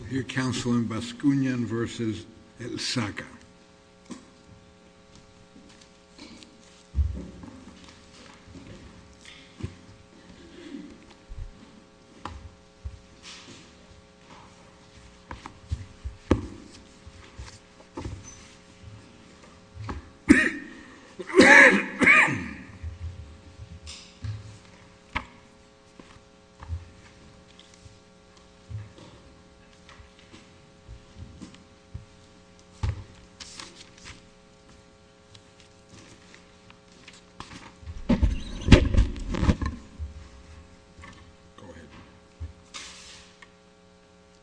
We'll hear counsel in Bascunan v. Elsaca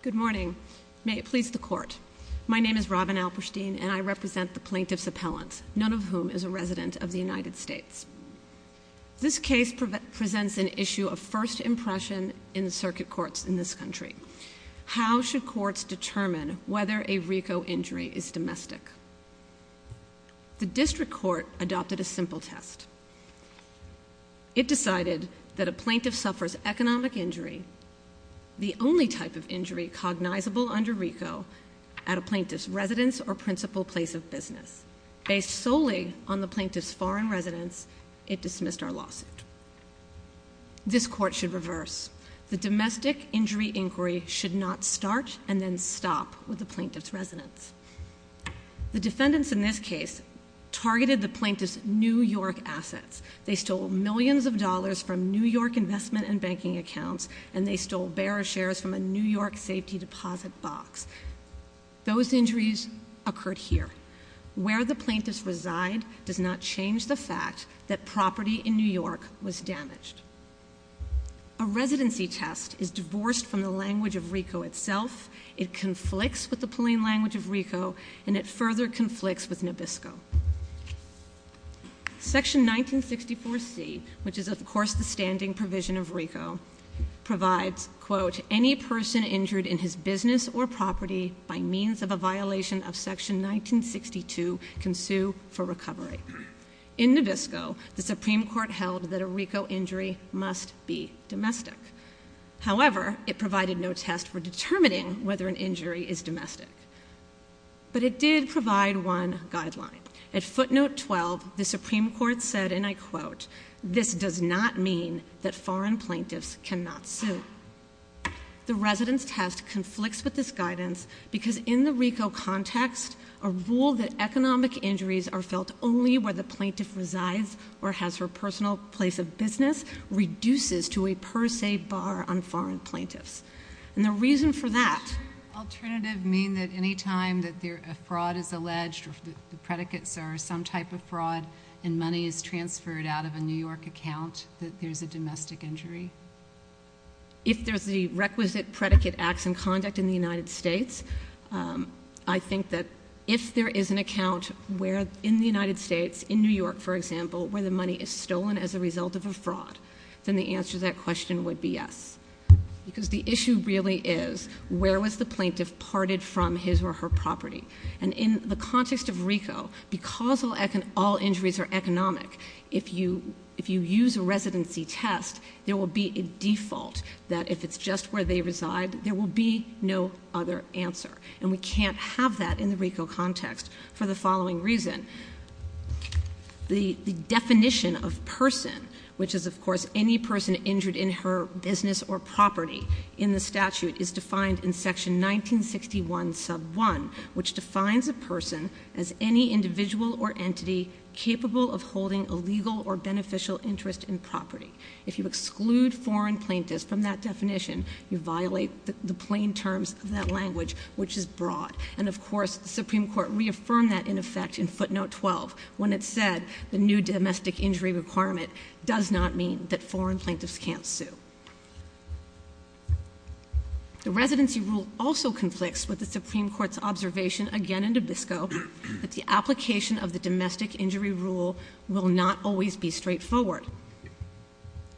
Good morning. May it please the court. My name is Robin Alperstein and I represent the plaintiff's appellant, none of whom is a resident of the United States. This case presents an issue of first impression in the circuit courts in this country. How should courts determine whether a RICO injury is domestic? The district court adopted a simple test. It decided that a plaintiff suffers economic injury, the only type of injury cognizable under RICO, at a plaintiff's residence or principal place of business. Based solely on the plaintiff's foreign residence, it dismissed our lawsuit. This court should reverse. The domestic injury inquiry should not start and then stop with the plaintiff's residence. The defendants in this case targeted the plaintiff's New York assets. They stole millions of dollars from New York investment and banking accounts, and they stole bearer shares from a New York safety deposit box. Those injuries occurred here. Where the plaintiff's reside does not change the fact that property in New York was damaged. A residency test is divorced from the language of RICO itself. It conflicts with the plain language of RICO, and it further conflicts with Nabisco. Section 1964C, which is of course the standing provision of RICO, provides, quote, any person injured in his business or property by means of a violation of section 1962 can sue for recovery. In Nabisco, the Supreme Court held that a RICO injury must be domestic. However, it provided no test for determining whether an injury is domestic. But it did provide one guideline. At footnote 12, the Supreme Court said, and I quote, this does not mean that foreign plaintiffs cannot sue. The residence test conflicts with this guidance because in the RICO context, a rule that economic injuries are felt only where the plaintiff resides or has her personal place of business reduces to a per se bar on foreign plaintiffs. And the reason for that. Does the alternative mean that any time that a fraud is alleged or the predicates are some type of fraud and money is transferred out of a New York account, that there's a domestic injury? If there's the requisite predicate acts in conduct in the United States, I think that if there is an account in the United States, in New York, for example, where the money is stolen as a result of a fraud, then the answer to that question would be yes. Because the issue really is, where was the plaintiff parted from his or her property? And in the context of RICO, because all injuries are economic, if you use a residency test, there will be a default that if it's just where they reside, there will be no other answer. And we can't have that in the RICO context for the following reason. The definition of person, which is of course any person injured in her business or property in the statute, is defined in section 1961 sub 1, which defines a person as any individual or entity capable of holding a legal or beneficial interest in property. If you exclude foreign plaintiffs from that definition, you violate the plain terms of that language, which is broad. And of course, the Supreme Court reaffirmed that in effect in footnote 12, when it said the new domestic injury requirement does not mean that foreign plaintiffs can't sue. The residency rule also conflicts with the Supreme Court's observation, again in Nabisco, that the application of the domestic injury rule will not always be straightforward.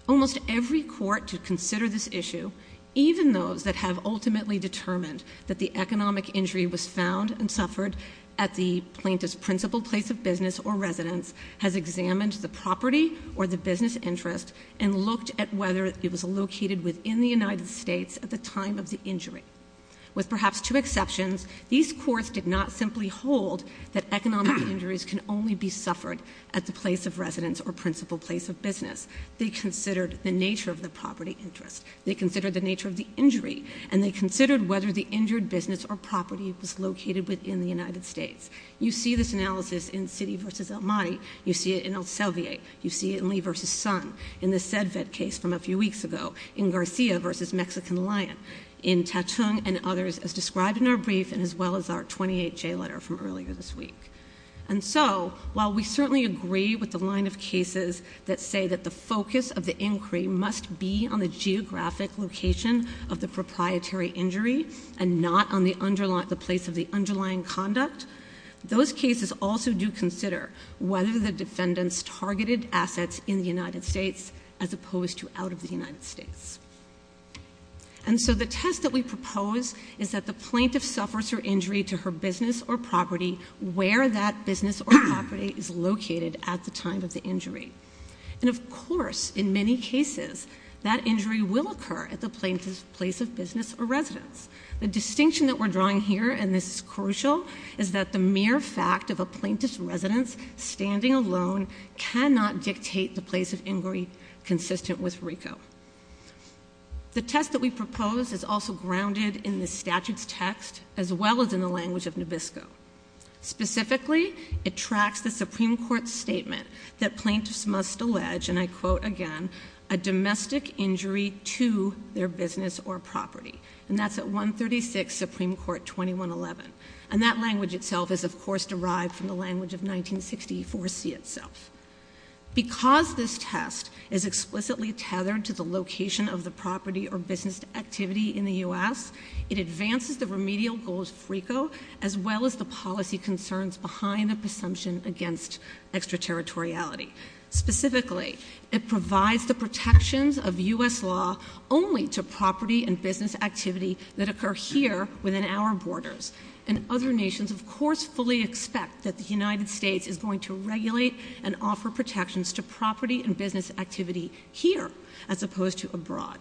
Almost every court to consider this issue, even those that have ultimately determined that the economic injury was found and suffered at the plaintiff's principal place of business or residence, has examined the property or the business interest and looked at whether it was located within the United States at the time of the injury. With perhaps two exceptions, these courts did not simply hold that economic injuries can only be suffered at the place of residence or principal place of business. They considered the nature of the property interest. They considered the nature of the injury. And they considered whether the injured business or property was located within the United States. You see this analysis in Citi v. Elmati. You see it in Elsevier. You see it in Lee v. Son. In the CEDVED case from a few weeks ago. In Garcia v. Mexican Lion. In Tatung and others as described in our brief and as well as our 28-J letter from earlier this week. And so, while we certainly agree with the line of cases that say that the focus of the inquiry must be on the geographic location of the proprietary injury and not on the place of the underlying conduct, those cases also do consider whether the defendants targeted assets in the United States as opposed to out of the United States. And so the test that we propose is that the plaintiff suffers her injury to her business or property where that business or property is located at the time of the injury. And of course, in many cases, that injury will occur at the plaintiff's place of business or residence. The distinction that we're drawing here, and this is crucial, is that the mere fact of a plaintiff's residence standing alone cannot dictate the place of inquiry consistent with RICO. The test that we propose is also grounded in the statute's text as well as in the language of NABISCO. Specifically, it tracks the Supreme Court's statement that plaintiffs must allege, and I quote again, a domestic injury to their business or property. And that's at 136 Supreme Court 2111. And that language itself is of course derived from the language of 1964C itself. Because this test is explicitly tethered to the location of the property or business activity in the U.S., it advances the remedial goals of RICO as well as the policy concerns behind the presumption against extraterritoriality. Specifically, it provides the protections of U.S. law only to property and business activity that occur here within our borders. And other nations, of course, fully expect that the United States is going to regulate and offer protections to property and business activity here as opposed to abroad.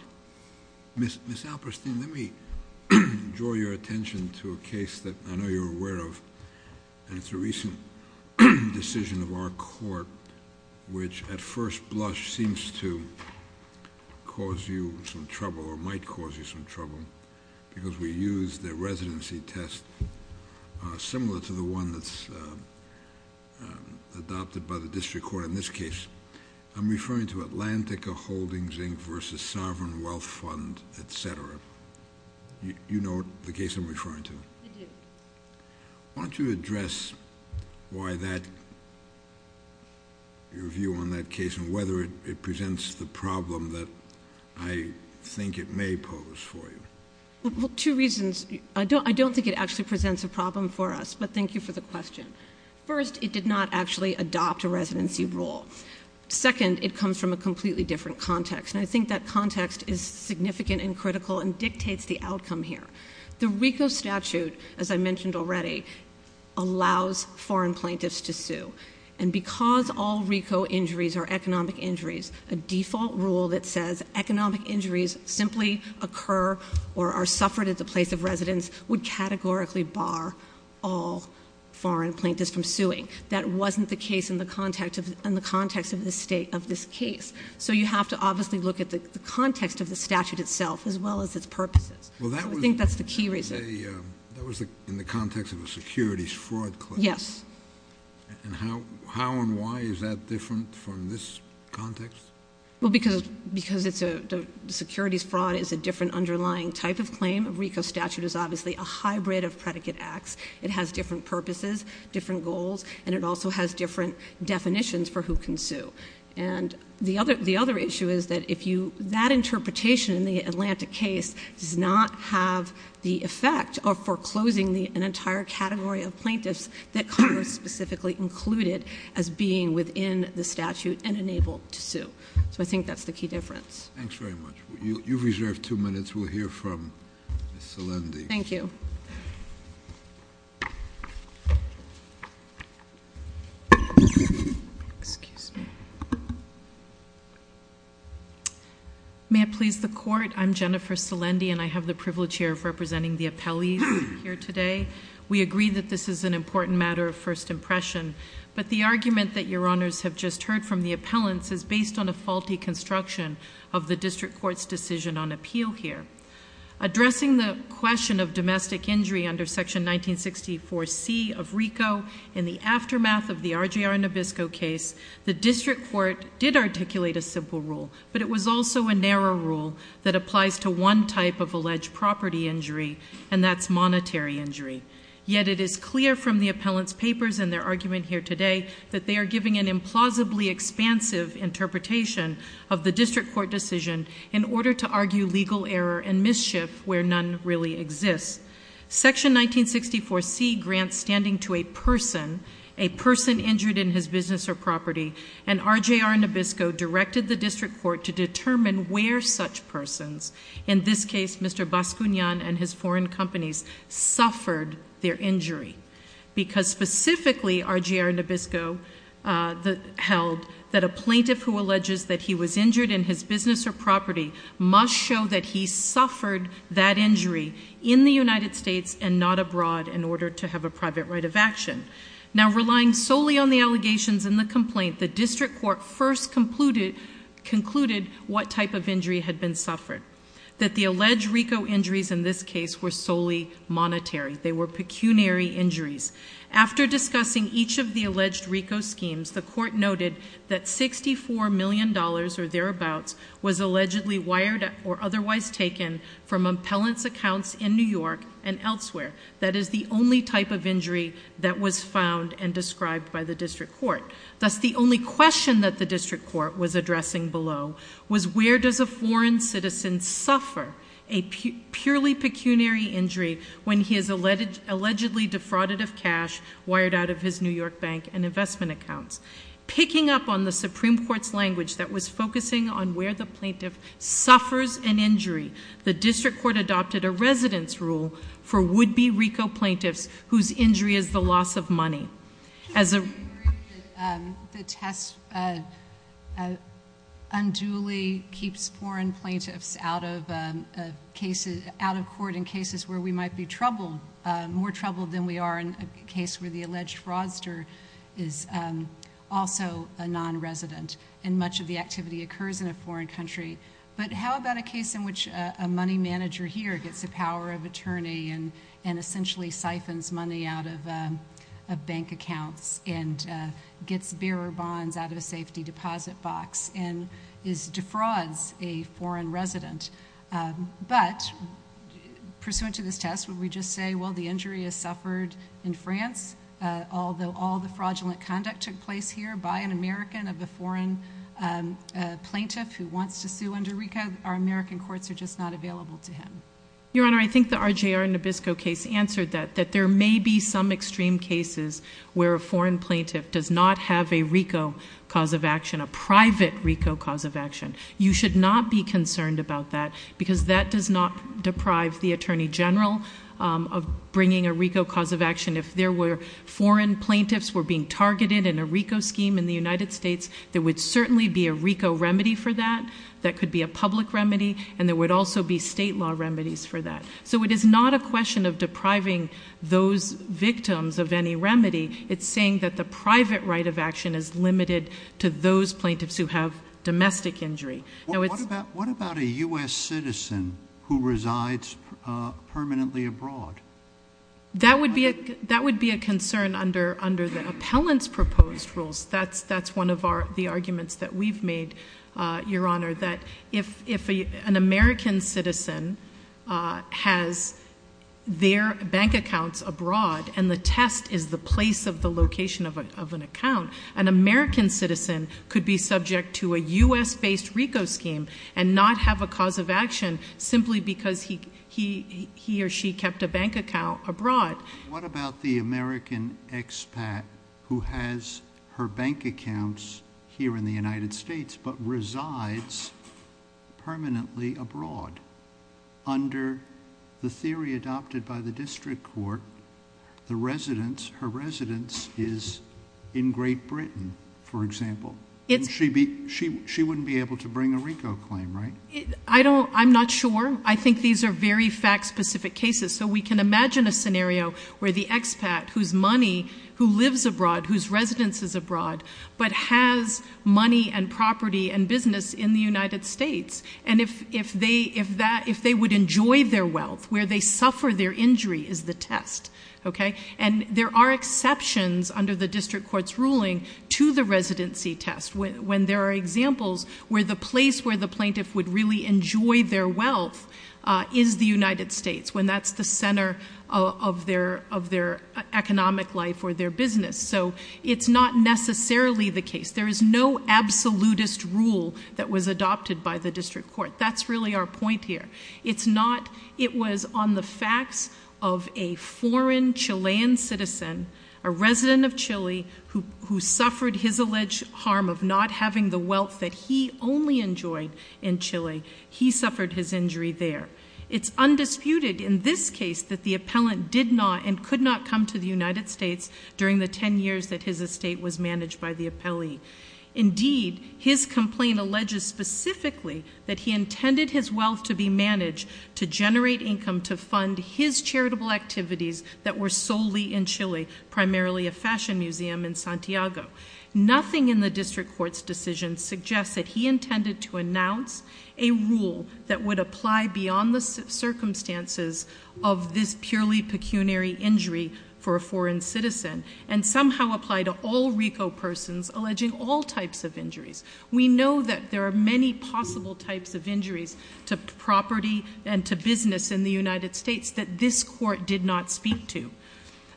Ms. Alperstein, let me draw your attention to a case that I know you're aware of. And it's a recent decision of our court which at first blush seems to cause you some trouble or might cause you some trouble because we used the residency test similar to the one that's adopted by the district court in this case. I'm referring to Atlantica Holdings Inc. v. Sovereign Wealth Fund, etc. You know the case I'm referring to? I do. Why don't you address your view on that case and whether it presents the problem that I think it may pose for you? Well, two reasons. I don't think it actually presents a problem for us, but thank you for the question. First, it did not actually adopt a residency rule. Second, it comes from a completely different context. And I think that context is significant and critical and dictates the outcome here. The RICO statute, as I mentioned already, allows foreign plaintiffs to sue. And because all RICO injuries are economic injuries, a default rule that says economic injuries simply occur or are suffered at the place of residence would categorically bar all foreign plaintiffs from suing. That wasn't the case in the context of the state of this case. So you have to obviously look at the context of the statute itself as well as its purposes. I think that's the key reason. That was in the context of a securities fraud claim. Yes. And how and why is that different from this context? Well, because securities fraud is a different underlying type of claim. A RICO statute is obviously a hybrid of predicate acts. It has different purposes, different goals, and it also has different definitions for who can sue. And the other issue is that that interpretation in the Atlantic case does not have the effect of foreclosing an entire category of plaintiffs that Congress specifically included as being within the statute and unable to sue. So I think that's the key difference. Thanks very much. You've reserved two minutes. We'll hear from Ms. Salendi. Thank you. May I please the court? I'm Jennifer Salendi, and I have the privilege here of representing the appellees here today. We agree that this is an important matter of first impression, but the argument that Your Honors have just heard from the appellants is based on a faulty construction of the district court's decision on appeal here. Addressing the question of domestic injury under Section 1964C of RICO, in the aftermath of the RJR Nabisco case, the district court did articulate a simple rule, but it was also a narrow rule that applies to one type of alleged property injury, and that's monetary injury. Yet it is clear from the appellants' papers and their argument here today that they are giving an implausibly expansive interpretation of the district court decision in order to argue legal error and mischief where none really exists. Section 1964C grants standing to a person, a person injured in his business or property, and RJR Nabisco directed the district court to determine where such persons, in this case, Mr. Bascuñan and his foreign companies, suffered their injury. Because specifically, RJR Nabisco held that a plaintiff who alleges that he was injured in his business or property must show that he suffered that injury in the United States and not abroad in order to have a private right of action. Now relying solely on the allegations in the complaint, the district court first concluded what type of injury had been suffered. That the alleged RICO injuries in this case were solely monetary. They were pecuniary injuries. After discussing each of the alleged RICO schemes, the court noted that $64 million or thereabouts was allegedly wired or otherwise taken from appellants' accounts in New York and elsewhere. That is the only type of injury that was found and described by the district court. Thus, the only question that the district court was addressing below was where does a foreign citizen suffer a purely pecuniary injury when he is allegedly defrauded of cash wired out of his New York bank and investment accounts? Picking up on the Supreme Court's language that was focusing on where the plaintiff suffers an injury, the district court adopted a residence rule for would-be RICO plaintiffs whose injury is the loss of money. The test unduly keeps foreign plaintiffs out of court in cases where we might be troubled, more troubled than we are in a case where the alleged fraudster is also a nonresident and much of the activity occurs in a foreign country. But how about a case in which a money manager here gets the power of attorney and essentially siphons money out of bank accounts and gets bearer bonds out of a safety deposit box and defrauds a foreign resident? But pursuant to this test, would we just say, well, the injury is suffered in France, although all the fraudulent conduct took place here by an American of a foreign plaintiff who wants to sue under RICO, our American courts are just not available to him? Your Honor, I think the RJR Nabisco case answered that, that there may be some extreme cases where a foreign plaintiff does not have a RICO cause of action, a private RICO cause of action. You should not be concerned about that because that does not deprive the attorney general of bringing a RICO cause of action. If there were foreign plaintiffs were being targeted in a RICO scheme in the United States, there would certainly be a RICO remedy for that. That could be a public remedy, and there would also be state law remedies for that. So it is not a question of depriving those victims of any remedy. It's saying that the private right of action is limited to those plaintiffs who have domestic injury. What about a U.S. citizen who resides permanently abroad? That would be a concern under the appellant's proposed rules. That's one of the arguments that we've made, Your Honor, that if an American citizen has their bank accounts abroad and the test is the place of the location of an account, an American citizen could be subject to a U.S.-based RICO scheme and not have a cause of action simply because he or she kept a bank account abroad. What about the American expat who has her bank accounts here in the United States but resides permanently abroad? Under the theory adopted by the district court, her residence is in Great Britain, for example. She wouldn't be able to bring a RICO claim, right? I'm not sure. I think these are very fact-specific cases. So we can imagine a scenario where the expat whose money, who lives abroad, whose residence is abroad, but has money and property and business in the United States, and if they would enjoy their wealth, where they suffer their injury is the test. And there are exceptions under the district court's ruling to the residency test when there are examples where the place where the plaintiff would really enjoy their wealth is the United States, when that's the center of their economic life or their business. So it's not necessarily the case. There is no absolutist rule that was adopted by the district court. That's really our point here. It's not. It was on the facts of a foreign Chilean citizen, a resident of Chile, who suffered his alleged harm of not having the wealth that he only enjoyed in Chile. He suffered his injury there. It's undisputed in this case that the appellant did not and could not come to the United States during the 10 years that his estate was managed by the appellee. Indeed, his complaint alleges specifically that he intended his wealth to be managed to generate income to fund his charitable activities that were solely in Chile, primarily a fashion museum in Santiago. Nothing in the district court's decision suggests that he intended to announce a rule that would apply beyond the circumstances of this purely pecuniary injury for a foreign citizen and somehow apply to all RICO persons alleging all types of injuries. We know that there are many possible types of injuries to property and to business in the United States that this court did not speak to.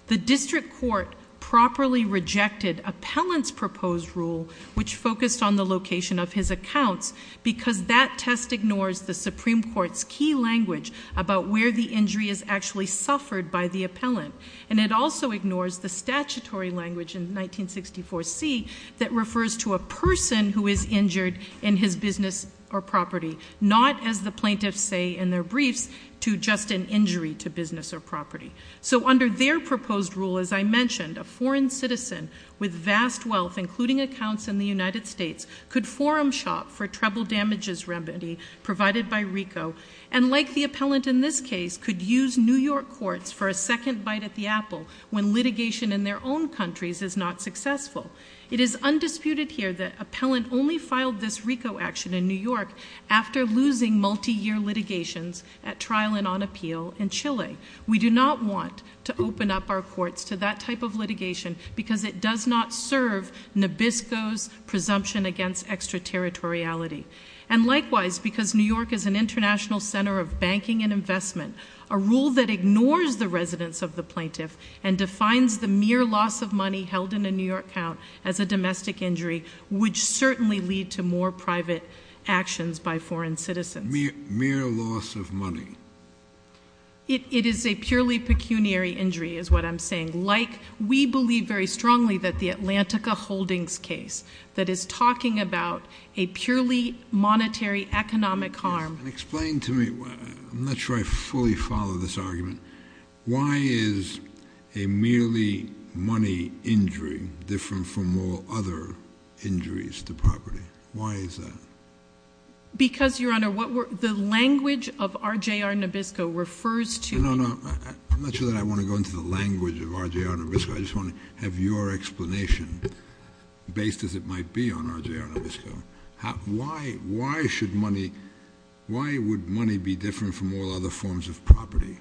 The district court properly rejected appellant's proposed rule, which focused on the location of his accounts, because that test ignores the Supreme Court's key language about where the injury is actually suffered by the appellant. And it also ignores the statutory language in 1964C that refers to a person who is injured in his business or property, not, as the plaintiffs say in their briefs, to just an injury to business or property. So under their proposed rule, as I mentioned, a foreign citizen with vast wealth, including accounts in the United States, could forum shop for treble damages remedy provided by RICO and, like the appellant in this case, could use New York courts for a second bite at the apple when litigation in their own countries is not successful. It is undisputed here that appellant only filed this RICO action in New York after losing multi-year litigations at trial and on appeal in Chile. We do not want to open up our courts to that type of litigation because it does not serve Nabisco's presumption against extraterritoriality. And likewise, because New York is an international center of banking and investment, a rule that ignores the residence of the plaintiff and defines the mere loss of money held in a New York account as a domestic injury would certainly lead to more private actions by foreign citizens. Mere loss of money? It is a purely pecuniary injury is what I'm saying. We believe very strongly that the Atlantica Holdings case that is talking about a purely monetary economic harm. Explain to me. I'm not sure I fully follow this argument. Why is a merely money injury different from all other injuries to property? Why is that? Because, Your Honor, the language of RJR Nabisco refers to— No, no, no. I'm not sure that I want to go into the language of RJR Nabisco. I just want to have your explanation based as it might be on RJR Nabisco. Why should money—why would money be different from all other forms of property?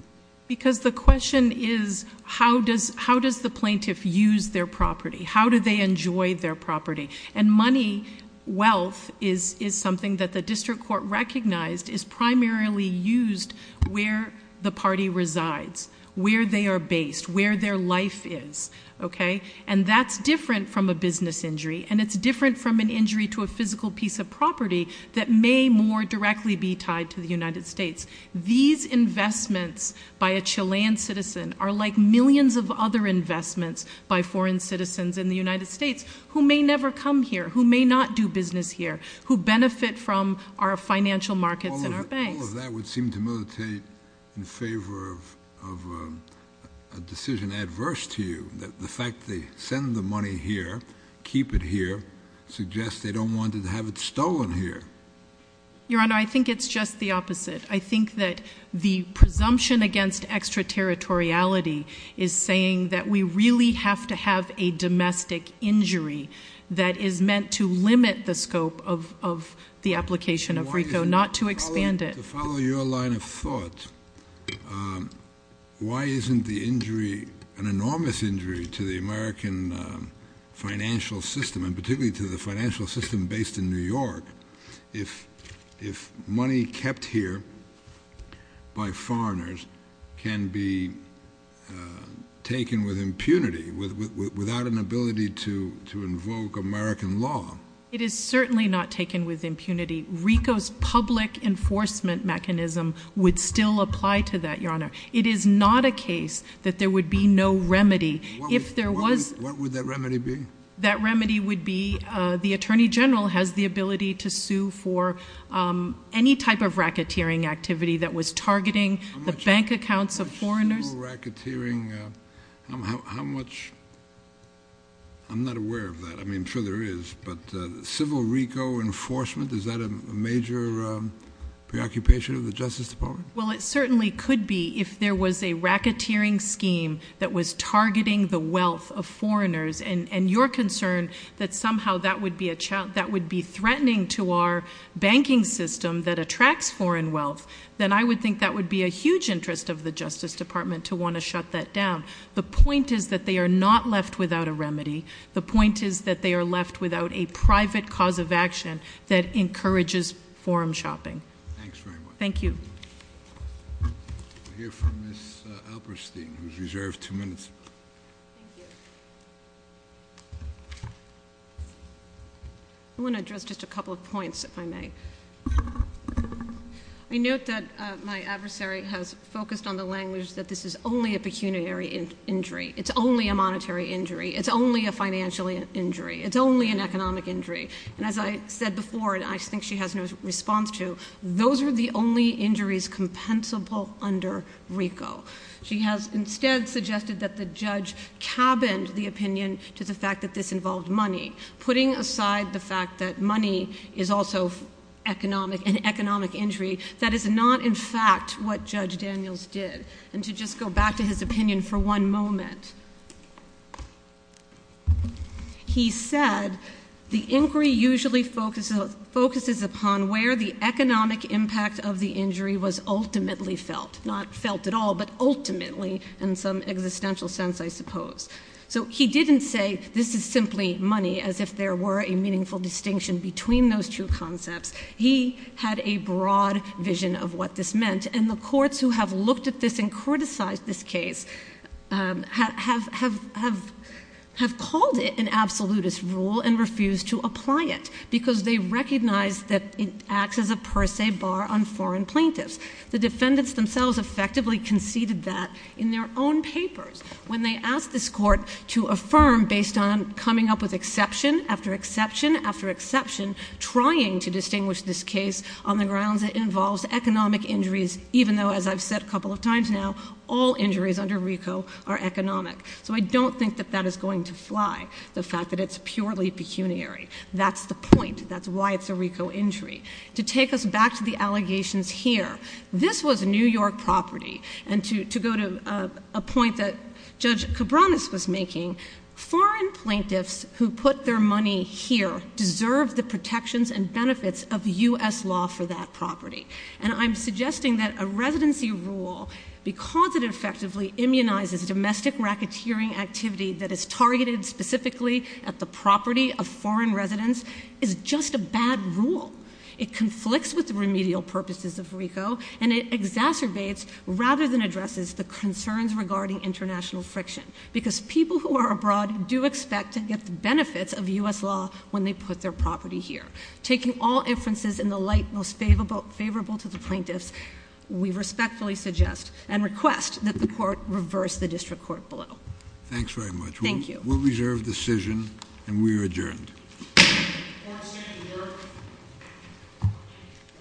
Because the question is how does the plaintiff use their property? How do they enjoy their property? And money, wealth, is something that the district court recognized is primarily used where the party resides, where they are based, where their life is. And that's different from a business injury, and it's different from an injury to a physical piece of property that may more directly be tied to the United States. These investments by a Chilean citizen are like millions of other investments by foreign citizens in the United States who may never come here, who may not do business here, who benefit from our financial markets and our banks. All of that would seem to militate in favor of a decision adverse to you, that the fact they send the money here, keep it here, suggests they don't want to have it stolen here. Your Honor, I think it's just the opposite. I think that the presumption against extraterritoriality is saying that we really have to have a domestic injury that is meant to limit the scope of the application of RICO, not to expand it. To follow your line of thought, why isn't the injury, an enormous injury to the American financial system, and particularly to the financial system based in New York, if money kept here by foreigners can be taken with impunity, without an ability to invoke American law? It is certainly not taken with impunity. RICO's public enforcement mechanism would still apply to that, Your Honor. It is not a case that there would be no remedy. What would that remedy be? That remedy would be the Attorney General has the ability to sue for any type of racketeering activity that was targeting the bank accounts of foreigners. How much civil racketeering? How much? I'm not aware of that. I mean, I'm sure there is, but civil RICO enforcement, is that a major preoccupation of the Justice Department? Well, it certainly could be if there was a racketeering scheme that was targeting the wealth of foreigners. And your concern that somehow that would be threatening to our banking system that attracts foreign wealth, then I would think that would be a huge interest of the Justice Department to want to shut that down. The point is that they are not left without a remedy. The point is that they are left without a private cause of action that encourages forum shopping. Thanks very much. Thank you. We'll hear from Ms. Alperstein, who is reserved two minutes. Thank you. I want to address just a couple of points, if I may. I note that my adversary has focused on the language that this is only a pecuniary injury. It's only a monetary injury. It's only a financial injury. It's only an economic injury. And as I said before, and I think she has no response to, those are the only injuries compensable under RICO. She has instead suggested that the judge cabined the opinion to the fact that this involved money, putting aside the fact that money is also an economic injury. That is not, in fact, what Judge Daniels did. And to just go back to his opinion for one moment, he said the inquiry usually focuses upon where the economic impact of the injury was ultimately felt. Not felt at all, but ultimately in some existential sense, I suppose. So he didn't say this is simply money, as if there were a meaningful distinction between those two concepts. He had a broad vision of what this meant. And the courts who have looked at this and criticized this case have called it an absolutist rule and refused to apply it. Because they recognize that it acts as a per se bar on foreign plaintiffs. The defendants themselves effectively conceded that in their own papers. When they asked this court to affirm based on coming up with exception after exception after exception, trying to distinguish this case on the grounds that it involves economic injuries, even though as I've said a couple of times now, all injuries under RICO are economic. So I don't think that that is going to fly, the fact that it's purely pecuniary. That's the point. That's why it's a RICO injury. To take us back to the allegations here, this was New York property. And to go to a point that Judge Cabranes was making, foreign plaintiffs who put their money here deserve the protections and benefits of U.S. law for that property. And I'm suggesting that a residency rule, because it effectively immunizes domestic racketeering activity that is targeted specifically at the property of foreign residents, is just a bad rule. It conflicts with the remedial purposes of RICO. And it exacerbates rather than addresses the concerns regarding international friction. Because people who are abroad do expect to get the benefits of U.S. law when they put their property here. Taking all inferences in the light most favorable to the plaintiffs, we respectfully suggest and request that the court reverse the district court below. Thanks very much. Thank you. We'll reserve the decision and we are adjourned.